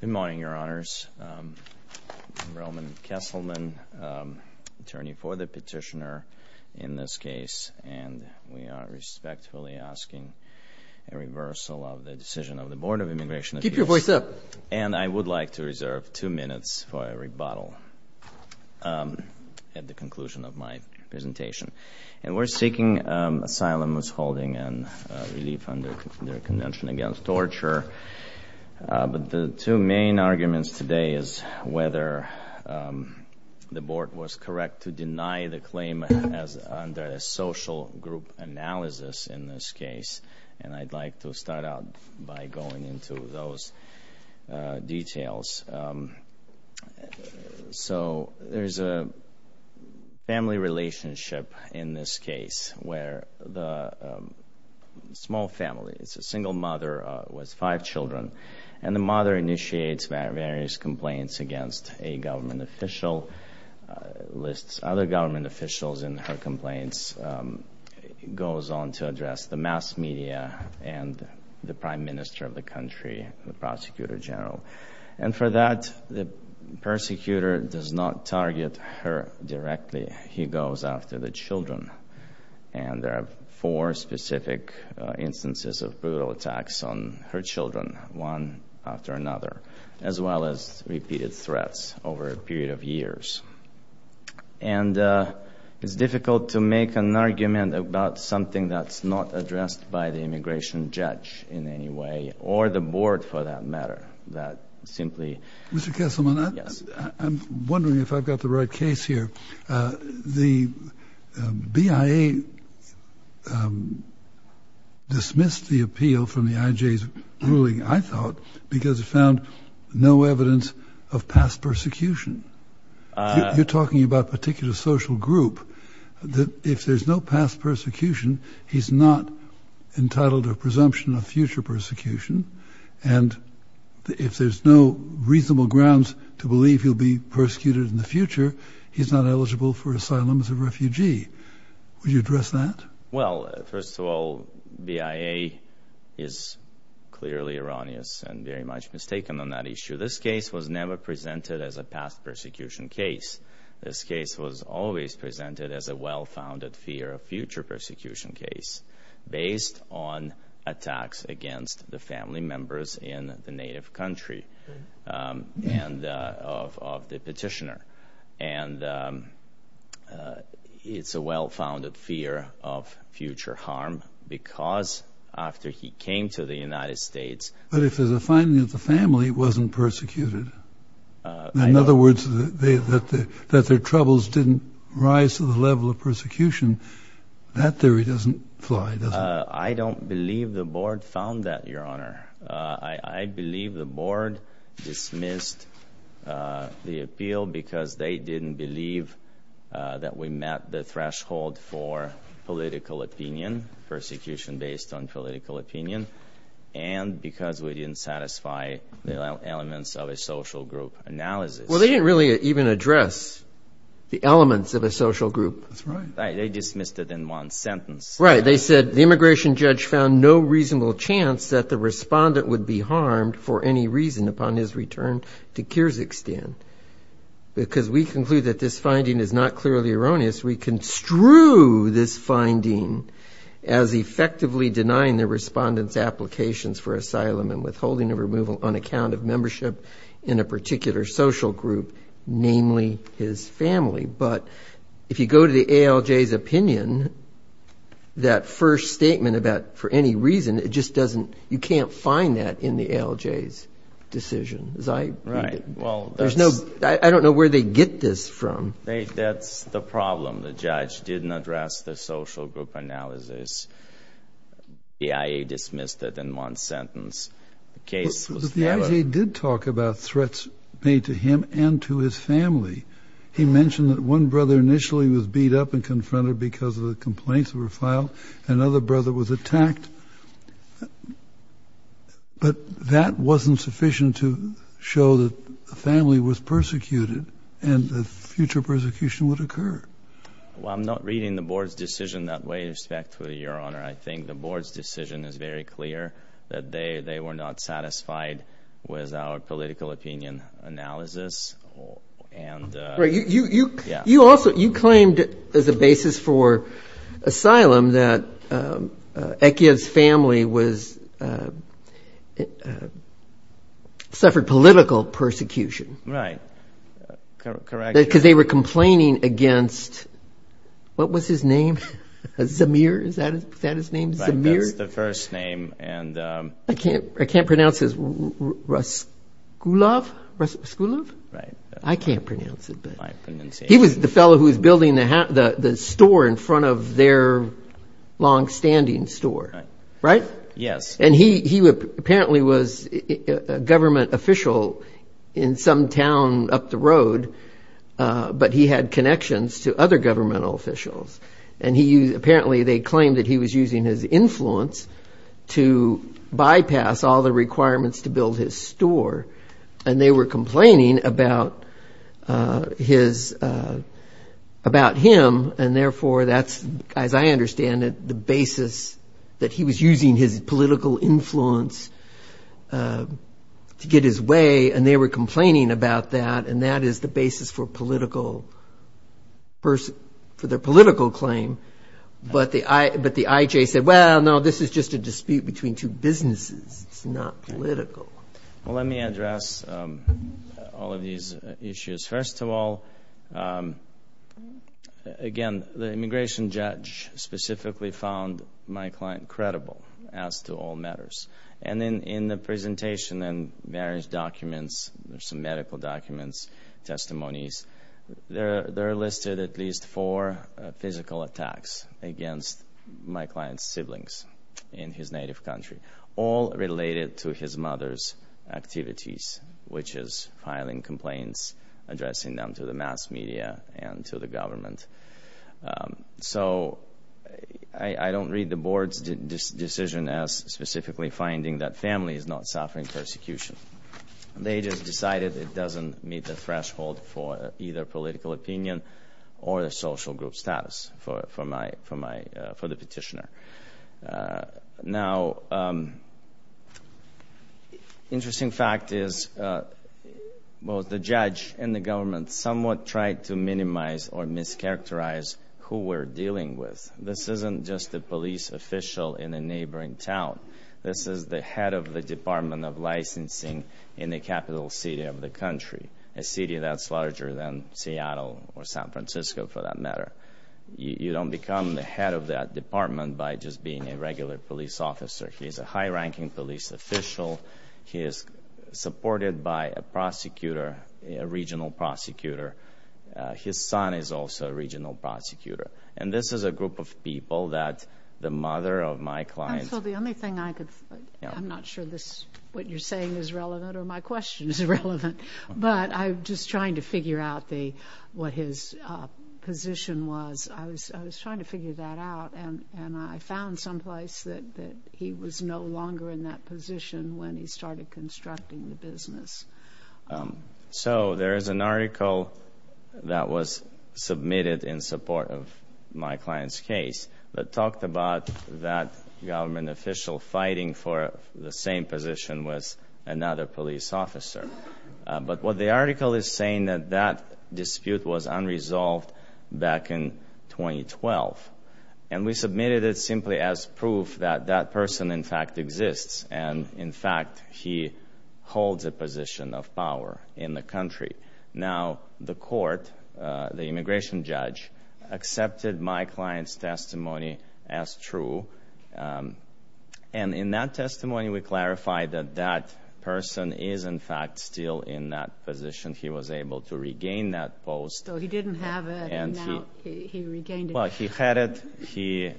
Good morning, Your Honors. I'm Roman Kesselman, attorney for the petitioner in this case, and we are respectfully asking a reversal of the decision of the Board of Immigration Appeals. Keep your voice up. And I would like to reserve two minutes for a rebuttal at the conclusion of my presentation. And we're seeking asylum, misholding, and relief under the Convention Against Torture. But the two main arguments today is whether the Board was correct to deny the claim under a social group analysis in this case. And I'd like to start out by going into those details. So, there's a family relationship in this case where the small family, it's a single mother with five children. And the mother initiates various complaints against a government official, lists other government officials in her complaints, goes on to address the mass media and the prime minister of the country, the prosecutor general. And for that, the persecutor does not target her directly. He goes after the children. And there are four specific instances of brutal attacks on her children, one after another, as well as repeated threats over a period of years. And it's difficult to make an argument about something that's not addressed by the immigration judge in any way, or the Board for that matter, that simply... Mr. Kesselman, I'm wondering if I've got the right case here. The BIA dismissed the appeal from the IJ's ruling, I thought, because it found no evidence of past persecution. You're talking about a particular social group, that if there's no past persecution, he's not entitled to a presumption of future persecution. And if there's no reasonable grounds to believe he'll be persecuted in the future, he's not eligible for asylum as a refugee. Would you address that? Well, first of all, BIA is clearly erroneous and very much mistaken on that issue. This case was never presented as a past persecution case. This case was always presented as a well-founded fear of future persecution case, based on attacks against the family members in the native country, and of the petitioner. And it's a well-founded fear of future harm, because after he came to the United States... But if there's a finding that the family wasn't persecuted... In other words, that their troubles didn't rise to the level of persecution, that theory doesn't fly, does it? I don't believe the board found that, Your Honor. I believe the board dismissed the appeal because they didn't believe that we met the threshold for political opinion, persecution based on political opinion, and because we didn't satisfy the elements of a social group analysis. Well, they didn't really even address the elements of a social group. That's right. They dismissed it in one sentence. Right. They said, the immigration judge found no reasonable chance that the respondent would be harmed for any reason upon his return to Kyrgyzstan. Because we conclude that this finding is not clearly erroneous. We construe this finding as effectively denying the respondent's applications for asylum and withholding a removal on account of membership in a particular social group, namely his family. But if you go to the ALJ's opinion, that first statement about, for any reason, it just doesn't... You can't find that in the ALJ's decision, as I... Right. Well, that's... There's no... I don't know where they get this from. That's the problem. The judge didn't address the social group analysis. The IA dismissed it in one sentence. The case was... But the IA did talk about threats made to him and to his family. He mentioned that one brother initially was beat up and confronted because of the complaints that were filed. Another brother was attacked. But that wasn't sufficient to show that the family was persecuted and that future persecution would occur. Well, I'm not reading the board's decision that way, respectfully, Your Honor. I think the board's decision is very clear, that they were not satisfied with our political opinion analysis. And... Right. You also... Yeah. You claimed as a basis for asylum that Ekiev's family was... Suffered political persecution. Right. Correct. Because they were complaining against... What was his name? Zamir? Is that his name? Zamir? Right. That's the first name. And... I can't pronounce his... Raskulov? Raskulov? Right. I can't pronounce it. My pronunciation... He was the fellow who was building the store in front of their long-standing store. Right? Yes. And he apparently was a government official in some town up the road, but he had connections to other governmental officials. And apparently they claimed that he was using his influence to bypass all the requirements to build his store. And they were complaining about him, and therefore that's, as I understand it, the basis that he was using his political influence to get his way. And they were complaining about that, and that is the basis for political... For their political claim. But the IJ said, well, no, this is just a dispute between two businesses. It's not political. Well, let me address all of these issues. First of all, again, the immigration judge specifically found my client credible as to all matters. And then in the presentation and various documents, there's some medical documents, testimonies, there are listed at least four physical attacks against my client's siblings in his native addressing them to the mass media and to the government. So I don't read the board's decision as specifically finding that family is not suffering persecution. They just decided it doesn't meet the threshold for either political opinion or the social group status for the petitioner. Now, interesting fact is both the judge and the government somewhat tried to minimize or mischaracterize who we're dealing with. This isn't just a police official in a neighboring town. This is the head of the Department of Licensing in the capital city of the country, a city that's larger than Seattle or San Francisco for that matter. You don't become the head of that department by just being a regular police officer. He's a high-ranking police official. He is supported by a prosecutor, a regional prosecutor. His son is also a regional prosecutor. And this is a group of people that the mother of my client... And so the only thing I could... I'm not sure what you're saying is relevant or my question is relevant, but I'm just trying to figure out what his position was. I was trying to figure that out and I found someplace that he was no longer in that position when he started constructing the business. So there is an article that was submitted in support of my client's case that talked about that government official fighting for the same position with another police officer. But what the article is saying that that dispute was unresolved back in 2012. And we submitted it simply as proof that that person in fact exists and in fact he holds a position of power in the country. Now the court, the immigration judge, accepted my client's testimony as true. And in that testimony we clarified that that person is in fact still in that position. He was able to regain that post. So he didn't have it and now he regained it. Well, he had it.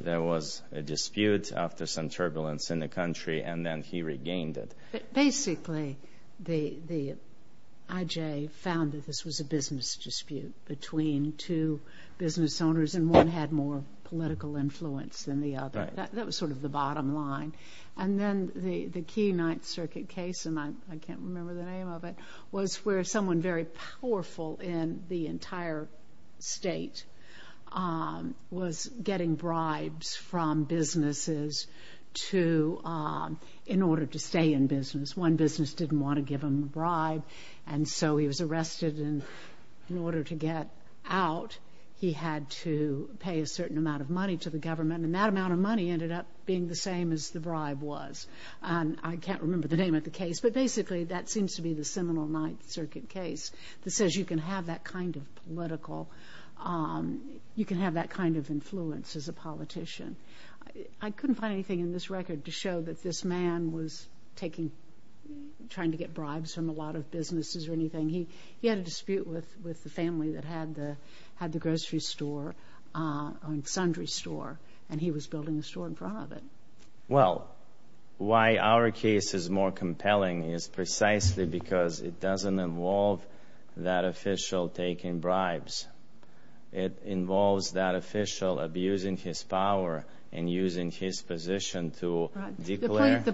There was a dispute after some turbulence in the country and then he regained it. But basically the IJ found that this was a business dispute between two business owners and one had more political influence than the other. That was sort of the bottom line. And then the key Ninth Circuit case, and I can't remember the name of it, was where someone very powerful in the entire state was getting bribes from businesses to, in order to stay in business. One business didn't want to give him a bribe and so he was arrested and in order to get out he had to pay a certain amount of money to the government and that amount of money ended up being the same as the bribe was. I can't remember the name of the case, but basically that seems to be the seminal Ninth Circuit case that says you can have that kind of political, you can have that kind of influence as a politician. I couldn't find anything in this record to show that this man was taking, trying to get bribes from a lot of businesses or anything. He had a dispute with the family that had the grocery store, sundry store, and he was building a store in front of it. Well, why our case is more compelling is precisely because it doesn't involve that official taking bribes. It involves that official abusing his power and using his position to declare... Right, and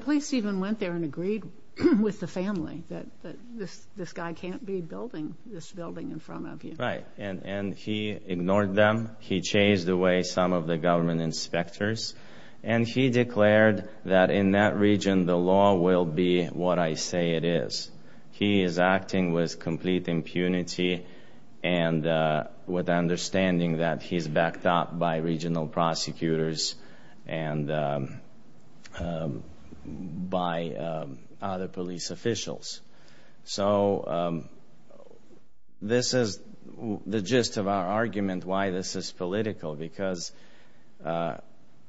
he ignored them. He chased away some of the government inspectors and he declared that in that region the law will be what I say it is. He is acting with complete impunity and with the understanding that he's backed up by regional prosecutors and by other police officials. So this is the gist of our argument why this is political because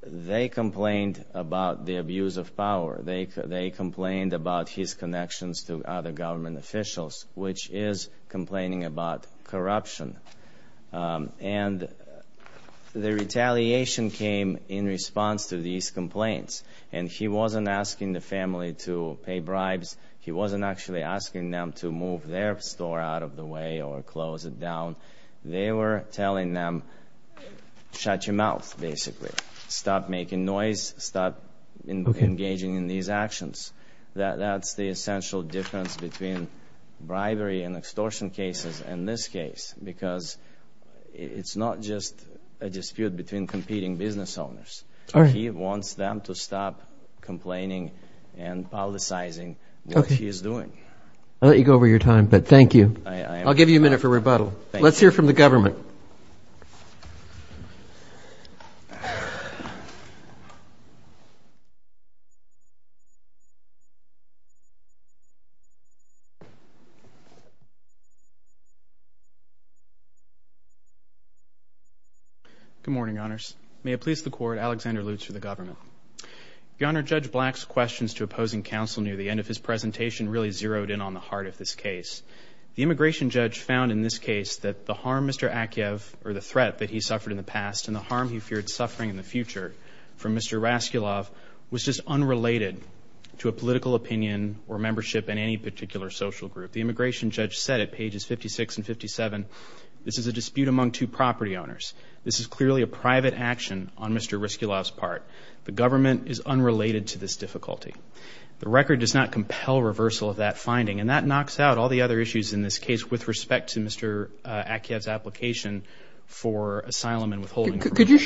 they complained about the abuse of power. They complained about his connections to other government officials, which is complaining about corruption. And the retaliation came in response to these complaints. And he wasn't asking the family to pay bribes. He wasn't actually asking them to move their store out of the way or close it down. They were telling them, shut your mouth, basically. Stop making noise. Stop engaging in these actions. That's the essential difference between bribery and extortion cases in this case because it's not just a dispute between competing business owners. He wants them to stop complaining and politicizing what he is doing. I'll let you go over your time, but thank you. I'll give you a minute for rebuttal. Let's hear from the government. Good morning, honors. May it please the court, Alexander Lutz for the government. Your Honor, Judge Black's questions to opposing counsel near the end of his presentation really zeroed in on the heart of this case. The immigration judge found in this case that the harm Mr. Akyev or the threat that he suffered in the past and the harm he feared suffering in the future from Mr. Raskulov was just unrelated to a political opinion or membership in any particular social group. The immigration judge said at pages 56 and 57, this is a dispute among two property owners. This is clearly a private action on Mr. Raskulov's part. The government is unrelated to this difficulty. The record does not compel reversal of that finding and that knocks out all the other issues in this case with respect to Mr. Akyev's application for asylum and withholding. Could you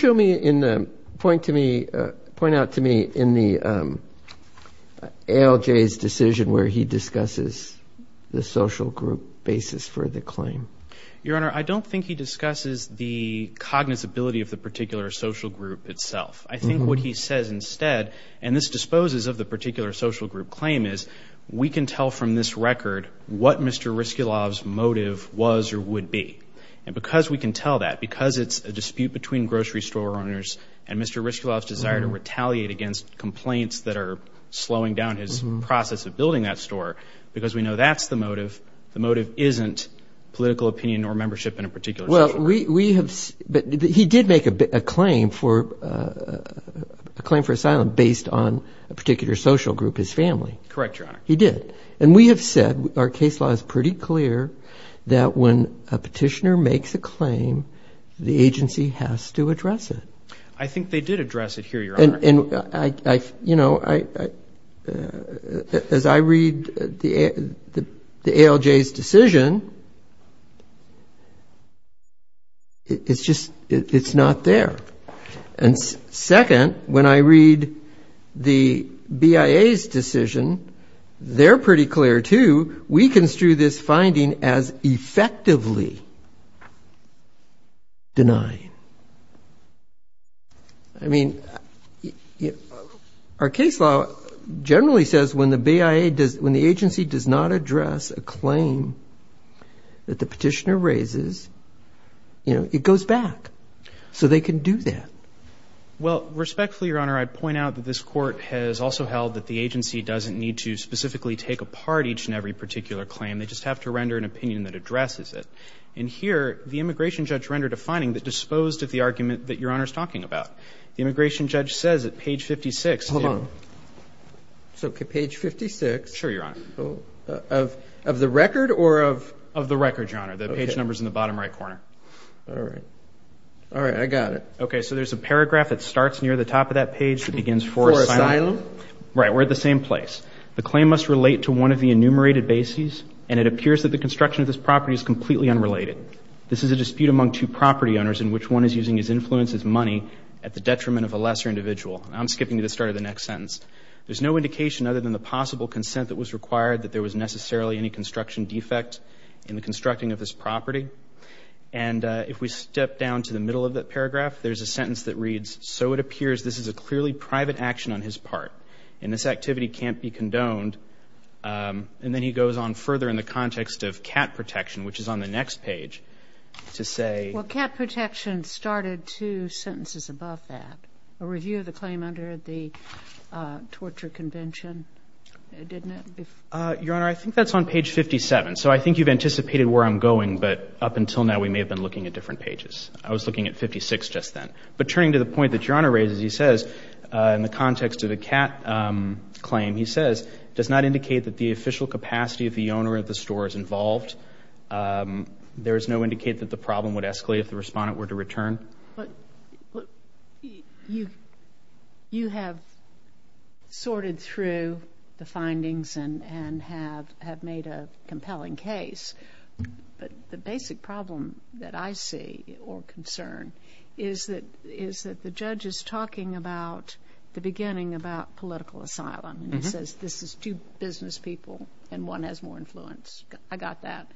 point out to me in the ALJ's decision where he discusses the social group basis for the claim? Your Honor, I don't think he discusses the cognizability of the particular social group itself. I think what he says instead, and this disposes of the particular social group claim, is we can tell from this record what Mr. Raskulov's motive was or would be. And because we can tell that, because it's a dispute between grocery store owners and Mr. Raskulov's desire to retaliate against complaints that are slowing down his process of building that store, because we know that's the motive, the motive isn't political opinion or membership in a particular social group. He did make a claim for asylum based on a particular social group, his family. Correct, Your Honor. He did. And we have said, our case law is pretty clear, that when a petitioner makes a claim, the agency has to address it. I think they did address it here, Your Honor. And I, you know, as I read the ALJ's decision, it's just, it's not there. And second, when I read the BIA's decision, they're pretty clear too, we construe this finding as effectively denying. I mean, our case law generally says when the BIA does, when the agency does not address a claim that the petitioner raises, you know, it goes back. So they can do that. Well, respectfully, Your Honor, I'd point out that this court has also held that the agency doesn't need to specifically take apart each and every particular claim. They just have to render an opinion that addresses it. And here, the immigration judge rendered a finding that disposed of the argument that Your Honor is talking about. The immigration judge says at page 56. Hold on. So page 56. Sure, Your Honor. Of the record or of? Of the record, Your Honor. Okay. The page number is in the bottom right corner. All right. All right. I got it. Okay. So there's a paragraph that starts near the top of that page that begins, for asylum. For asylum. Right. We're at the same place. The claim must relate to one of the enumerated bases, and it appears that the construction of this property is completely unrelated. This is a dispute among two property owners in which one is using his influence as money at the detriment of a lesser individual. Now, I'm skipping to the start of the next sentence. There's no indication other than the possible consent that was required that there was necessarily any construction defect in the constructing of this property. And if we step down to the middle of that paragraph, there's a sentence that reads, so it appears this is a clearly private action on his part, and this activity can't be condoned. And then he goes on further in the context of cat protection, which is on the next page, to say — Well, cat protection started two sentences above that, a review of the claim under the Torture Convention, didn't it, if — Your Honor, I think that's on page 57. So I think you've anticipated where I'm going, but up until now we may have been looking at different pages. I was looking at 56 just then. But turning to the point that Your Honor raises, he says, in the context of the cat claim, he says, does not indicate that the official capacity of the owner of the store is involved. There is no indicate that the problem would escalate if the respondent were to return. You have sorted through the findings and have made a compelling case, but the basic problem that I see or concern is that the judge is talking about the beginning about political asylum, and he says, this is two business people and one has more influence. I got that.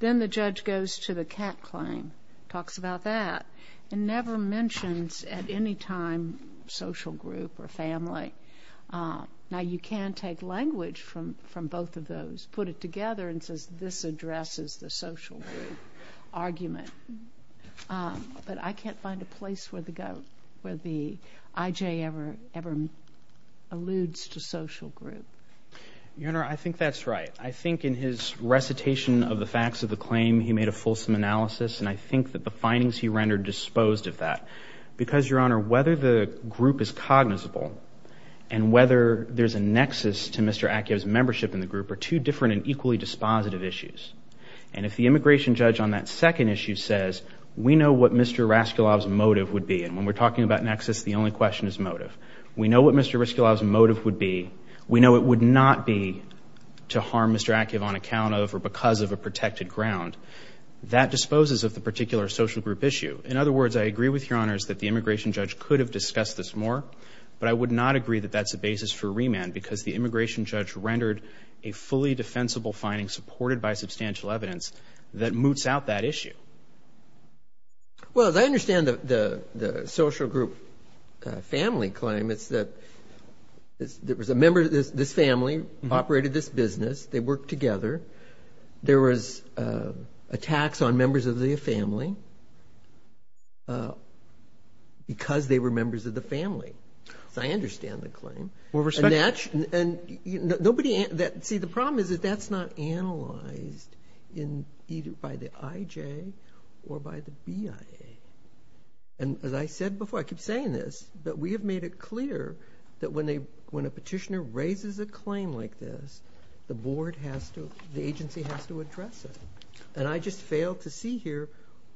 Then the judge goes to the cat claim, talks about that, and never mentions at any time social group or family. Now you can take language from both of those, put it together, and says, this addresses the social group argument, but I can't find a place where the — where the I.J. ever again alludes to social group. Your Honor, I think that's right. I think in his recitation of the facts of the claim, he made a fulsome analysis, and I think that the findings he rendered disposed of that. Because Your Honor, whether the group is cognizable and whether there's a nexus to Mr. Akiev's membership in the group are two different and equally dispositive issues. And if the immigration judge on that second issue says, we know what Mr. Raskolov's motive would be, and when we're talking about nexus, the only question is motive. We know what Mr. Raskolov's motive would be. We know it would not be to harm Mr. Akiev on account of or because of a protected ground. That disposes of the particular social group issue. In other words, I agree with Your Honors that the immigration judge could have discussed this more, but I would not agree that that's a basis for remand because the immigration judge rendered a fully defensible finding supported by substantial evidence that moots out that issue. Well, as I understand the social group family claim, it's that there was a member of this family, operated this business, they worked together. There was attacks on members of the family because they were members of the family. So I understand the claim. See, the problem is that that's not analyzed either by the IJ or by the BIA. And as I said before, I keep saying this, but we have made it clear that when a petitioner raises a claim like this, the agency has to address it. And I just fail to see here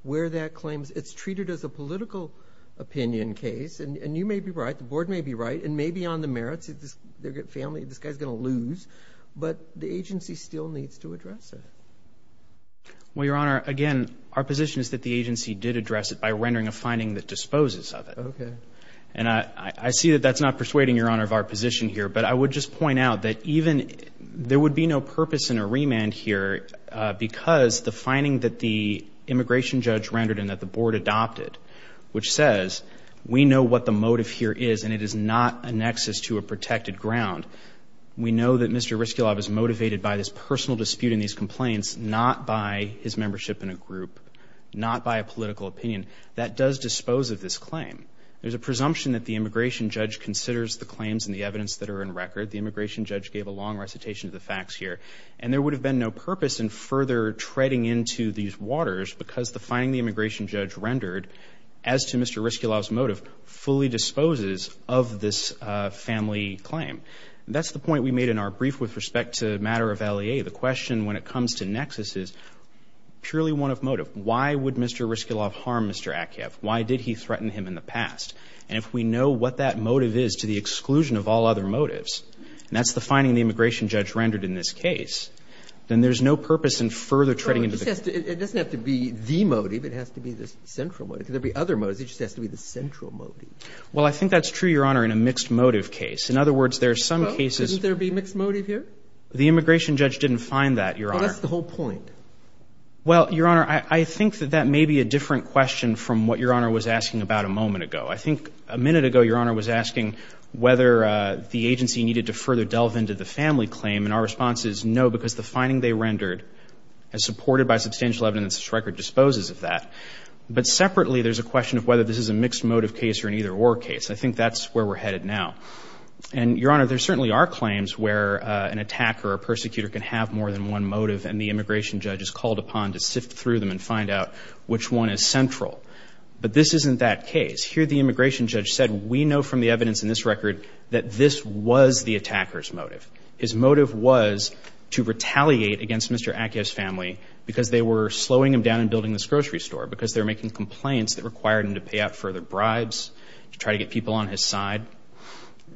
where that claim is. It's treated as a political opinion case, and you may be right, the board may be right, and may be on the merits, this family, this guy's going to lose, but the agency still needs to address it. Well, Your Honor, again, our position is that the agency did address it by rendering a finding that disposes of it. And I see that that's not persuading, Your Honor, of our position here, but I would just point out that even, there would be no purpose in a remand here because the finding that the immigration judge rendered and that the board adopted, which says we know what the claim is, is not a nexus to a protected ground. We know that Mr. Ryskulov is motivated by this personal dispute and these complaints, not by his membership in a group, not by a political opinion. That does dispose of this claim. There's a presumption that the immigration judge considers the claims and the evidence that are in record. The immigration judge gave a long recitation of the facts here. And there would have been no purpose in further treading into these waters because the finding the immigration judge rendered as to Mr. Ryskulov's motive fully disposes of this family claim. That's the point we made in our brief with respect to the matter of L.A.A. The question when it comes to nexus is purely one of motive. Why would Mr. Ryskulov harm Mr. Akiev? Why did he threaten him in the past? And if we know what that motive is to the exclusion of all other motives, and that's the finding the immigration judge rendered in this case, then there's no purpose in further treading into the case. It doesn't have to be the motive. It has to be the central motive. There could be other motives. It just has to be the central motive. Well, I think that's true, Your Honor, in a mixed motive case. In other words, there's some cases — Couldn't there be mixed motive here? The immigration judge didn't find that, Your Honor. Well, what's the whole point? Well, Your Honor, I think that that may be a different question from what Your Honor was asking about a moment ago. I think a minute ago Your Honor was asking whether the agency needed to further delve into the family claim. And our response is no, because the finding they rendered, as supported by substantial evidence, this record disposes of that. But separately, there's a question of whether this is a mixed motive case or an either-or case. I think that's where we're headed now. And, Your Honor, there certainly are claims where an attacker or persecutor can have more than one motive, and the immigration judge is called upon to sift through them and find out which one is central. But this isn't that case. Here the immigration judge said, we know from the evidence in this record that this was the attacker's motive. His motive was to retaliate against Mr. Accio's family because they were slowing him down in building this grocery store, because they were making complaints that required him to pay out further bribes, to try to get people on his side.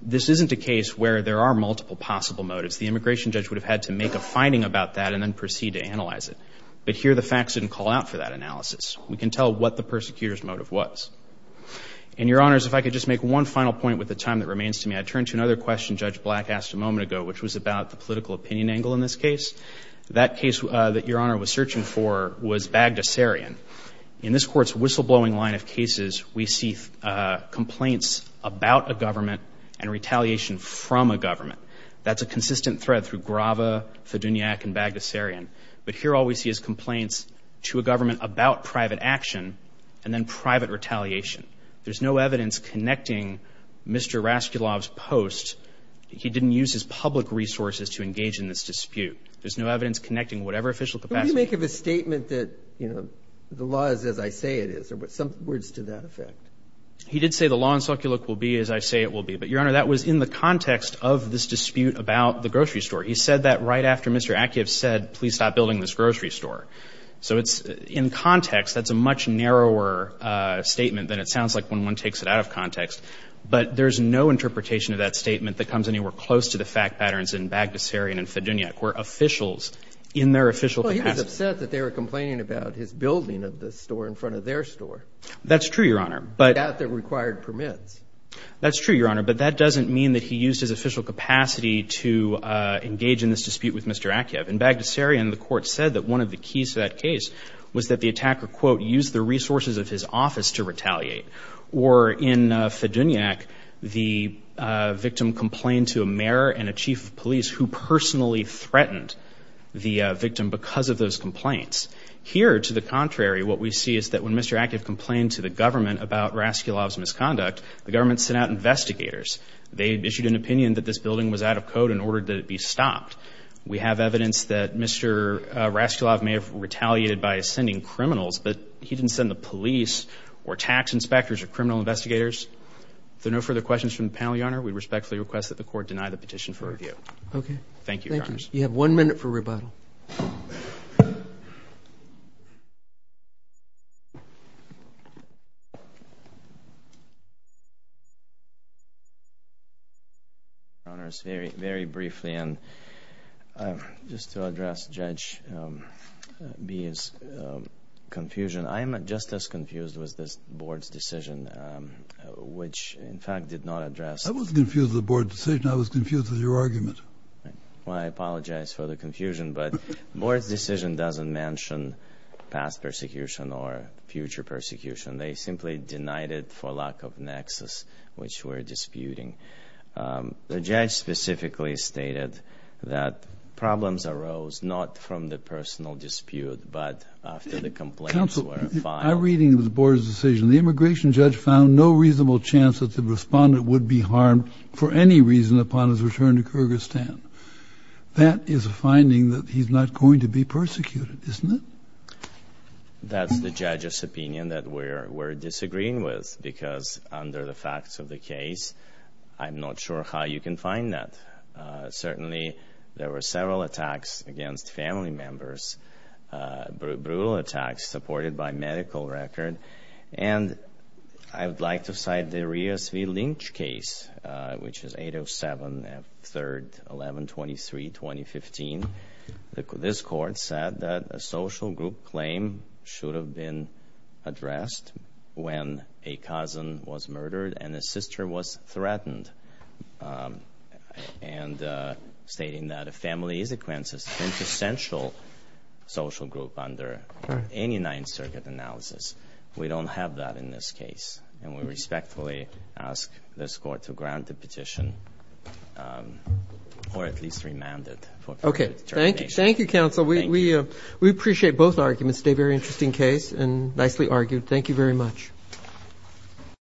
This isn't a case where there are multiple possible motives. The immigration judge would have had to make a finding about that and then proceed to analyze it. But here the facts didn't call out for that analysis. We can tell what the persecutor's motive was. And, Your Honors, if I could just make one final point with the time that remains to me, I'd turn to another question Judge Black asked a moment ago, which was about the political opinion angle in this case. That case that Your Honor was searching for was Bagdasarian. In this Court's whistleblowing line of cases, we see complaints about a government and retaliation from a government. That's a consistent thread through Grava, Fiduniak, and Bagdasarian. But here all we see is complaints to a government about private action and then private retaliation. There's no evidence connecting Mr. Raskulov's post. He didn't use his public resources to engage in this dispute. There's no evidence connecting whatever official capacity. But what do you make of his statement that, you know, the law is as I say it is, or some words to that effect? He did say the law in Sukulik will be as I say it will be. But, Your Honor, that was in the context of this dispute about the grocery store. He said that right after Mr. Akiev said, please stop building this grocery store. So it's in context, that's a much narrower statement than it sounds like when one takes it out of context. But there's no interpretation of that statement that comes anywhere close to the fact patterns in Bagdasarian and Fiduniak, where officials in their official capacity Well, he was upset that they were complaining about his building of the store in front of their store. That's true, Your Honor. But Without the required permits. That's true, Your Honor. But that doesn't mean that he used his official capacity to engage in this dispute with Mr. Akiev. In Bagdasarian, the court said that one of the keys to that case was that the attacker, quote, used the resources of his office to retaliate. Or in Fiduniak, the victim complained to a mayor and a chief of police who personally threatened the victim because of those complaints. Here, to the contrary, what we see is that when Mr. Akiev complained to the government about Raskulov's misconduct, the government sent out investigators. They issued an opinion that this building was out of code and ordered that it be stopped. We have evidence that Mr. Raskulov may have retaliated by sending criminals, but he didn't send the police or tax inspectors or criminal investigators. If there are no further questions from the panel, Your Honor, we respectfully request that the court deny the petition for review. Okay. Thank you, Your Honors. You have one minute for rebuttal. Your Honors, very, very briefly, and just to address Judge B's confusion, I am just as confused with this board's decision, which, in fact, did not address I wasn't confused with the board's decision. I was confused with your argument. I apologize for the confusion, but the board's decision doesn't mention past persecution or future persecution. They simply denied it for lack of nexus, which we're disputing. The judge specifically stated that problems arose not from the personal dispute, but after the complaints were filed... Counsel, my reading of the board's decision, the immigration judge found no reasonable chance that the respondent would be harmed for any reason upon his return to Kyrgyzstan. That is a finding that he's not going to be persecuted, isn't it? That's the judge's opinion that we're disagreeing with, because under the facts of the case, I'm not sure how you can find that. Certainly, there were several attacks against family members, brutal attacks supported by medical record. I would like to cite the Ria Svy-Lynch case, which is 807, 3rd, 11-23, 2015. This court said that a social group claim should have been addressed when a cousin was murdered and a sister was threatened, stating that a family consequence is an essential social group under any Ninth Circuit analysis. We don't have that in this case, and we respectfully ask this court to grant the petition, or at least remand it for further determination. Thank you, Counsel. We appreciate both arguments. It's a very interesting case and nicely argued. Thank you very much.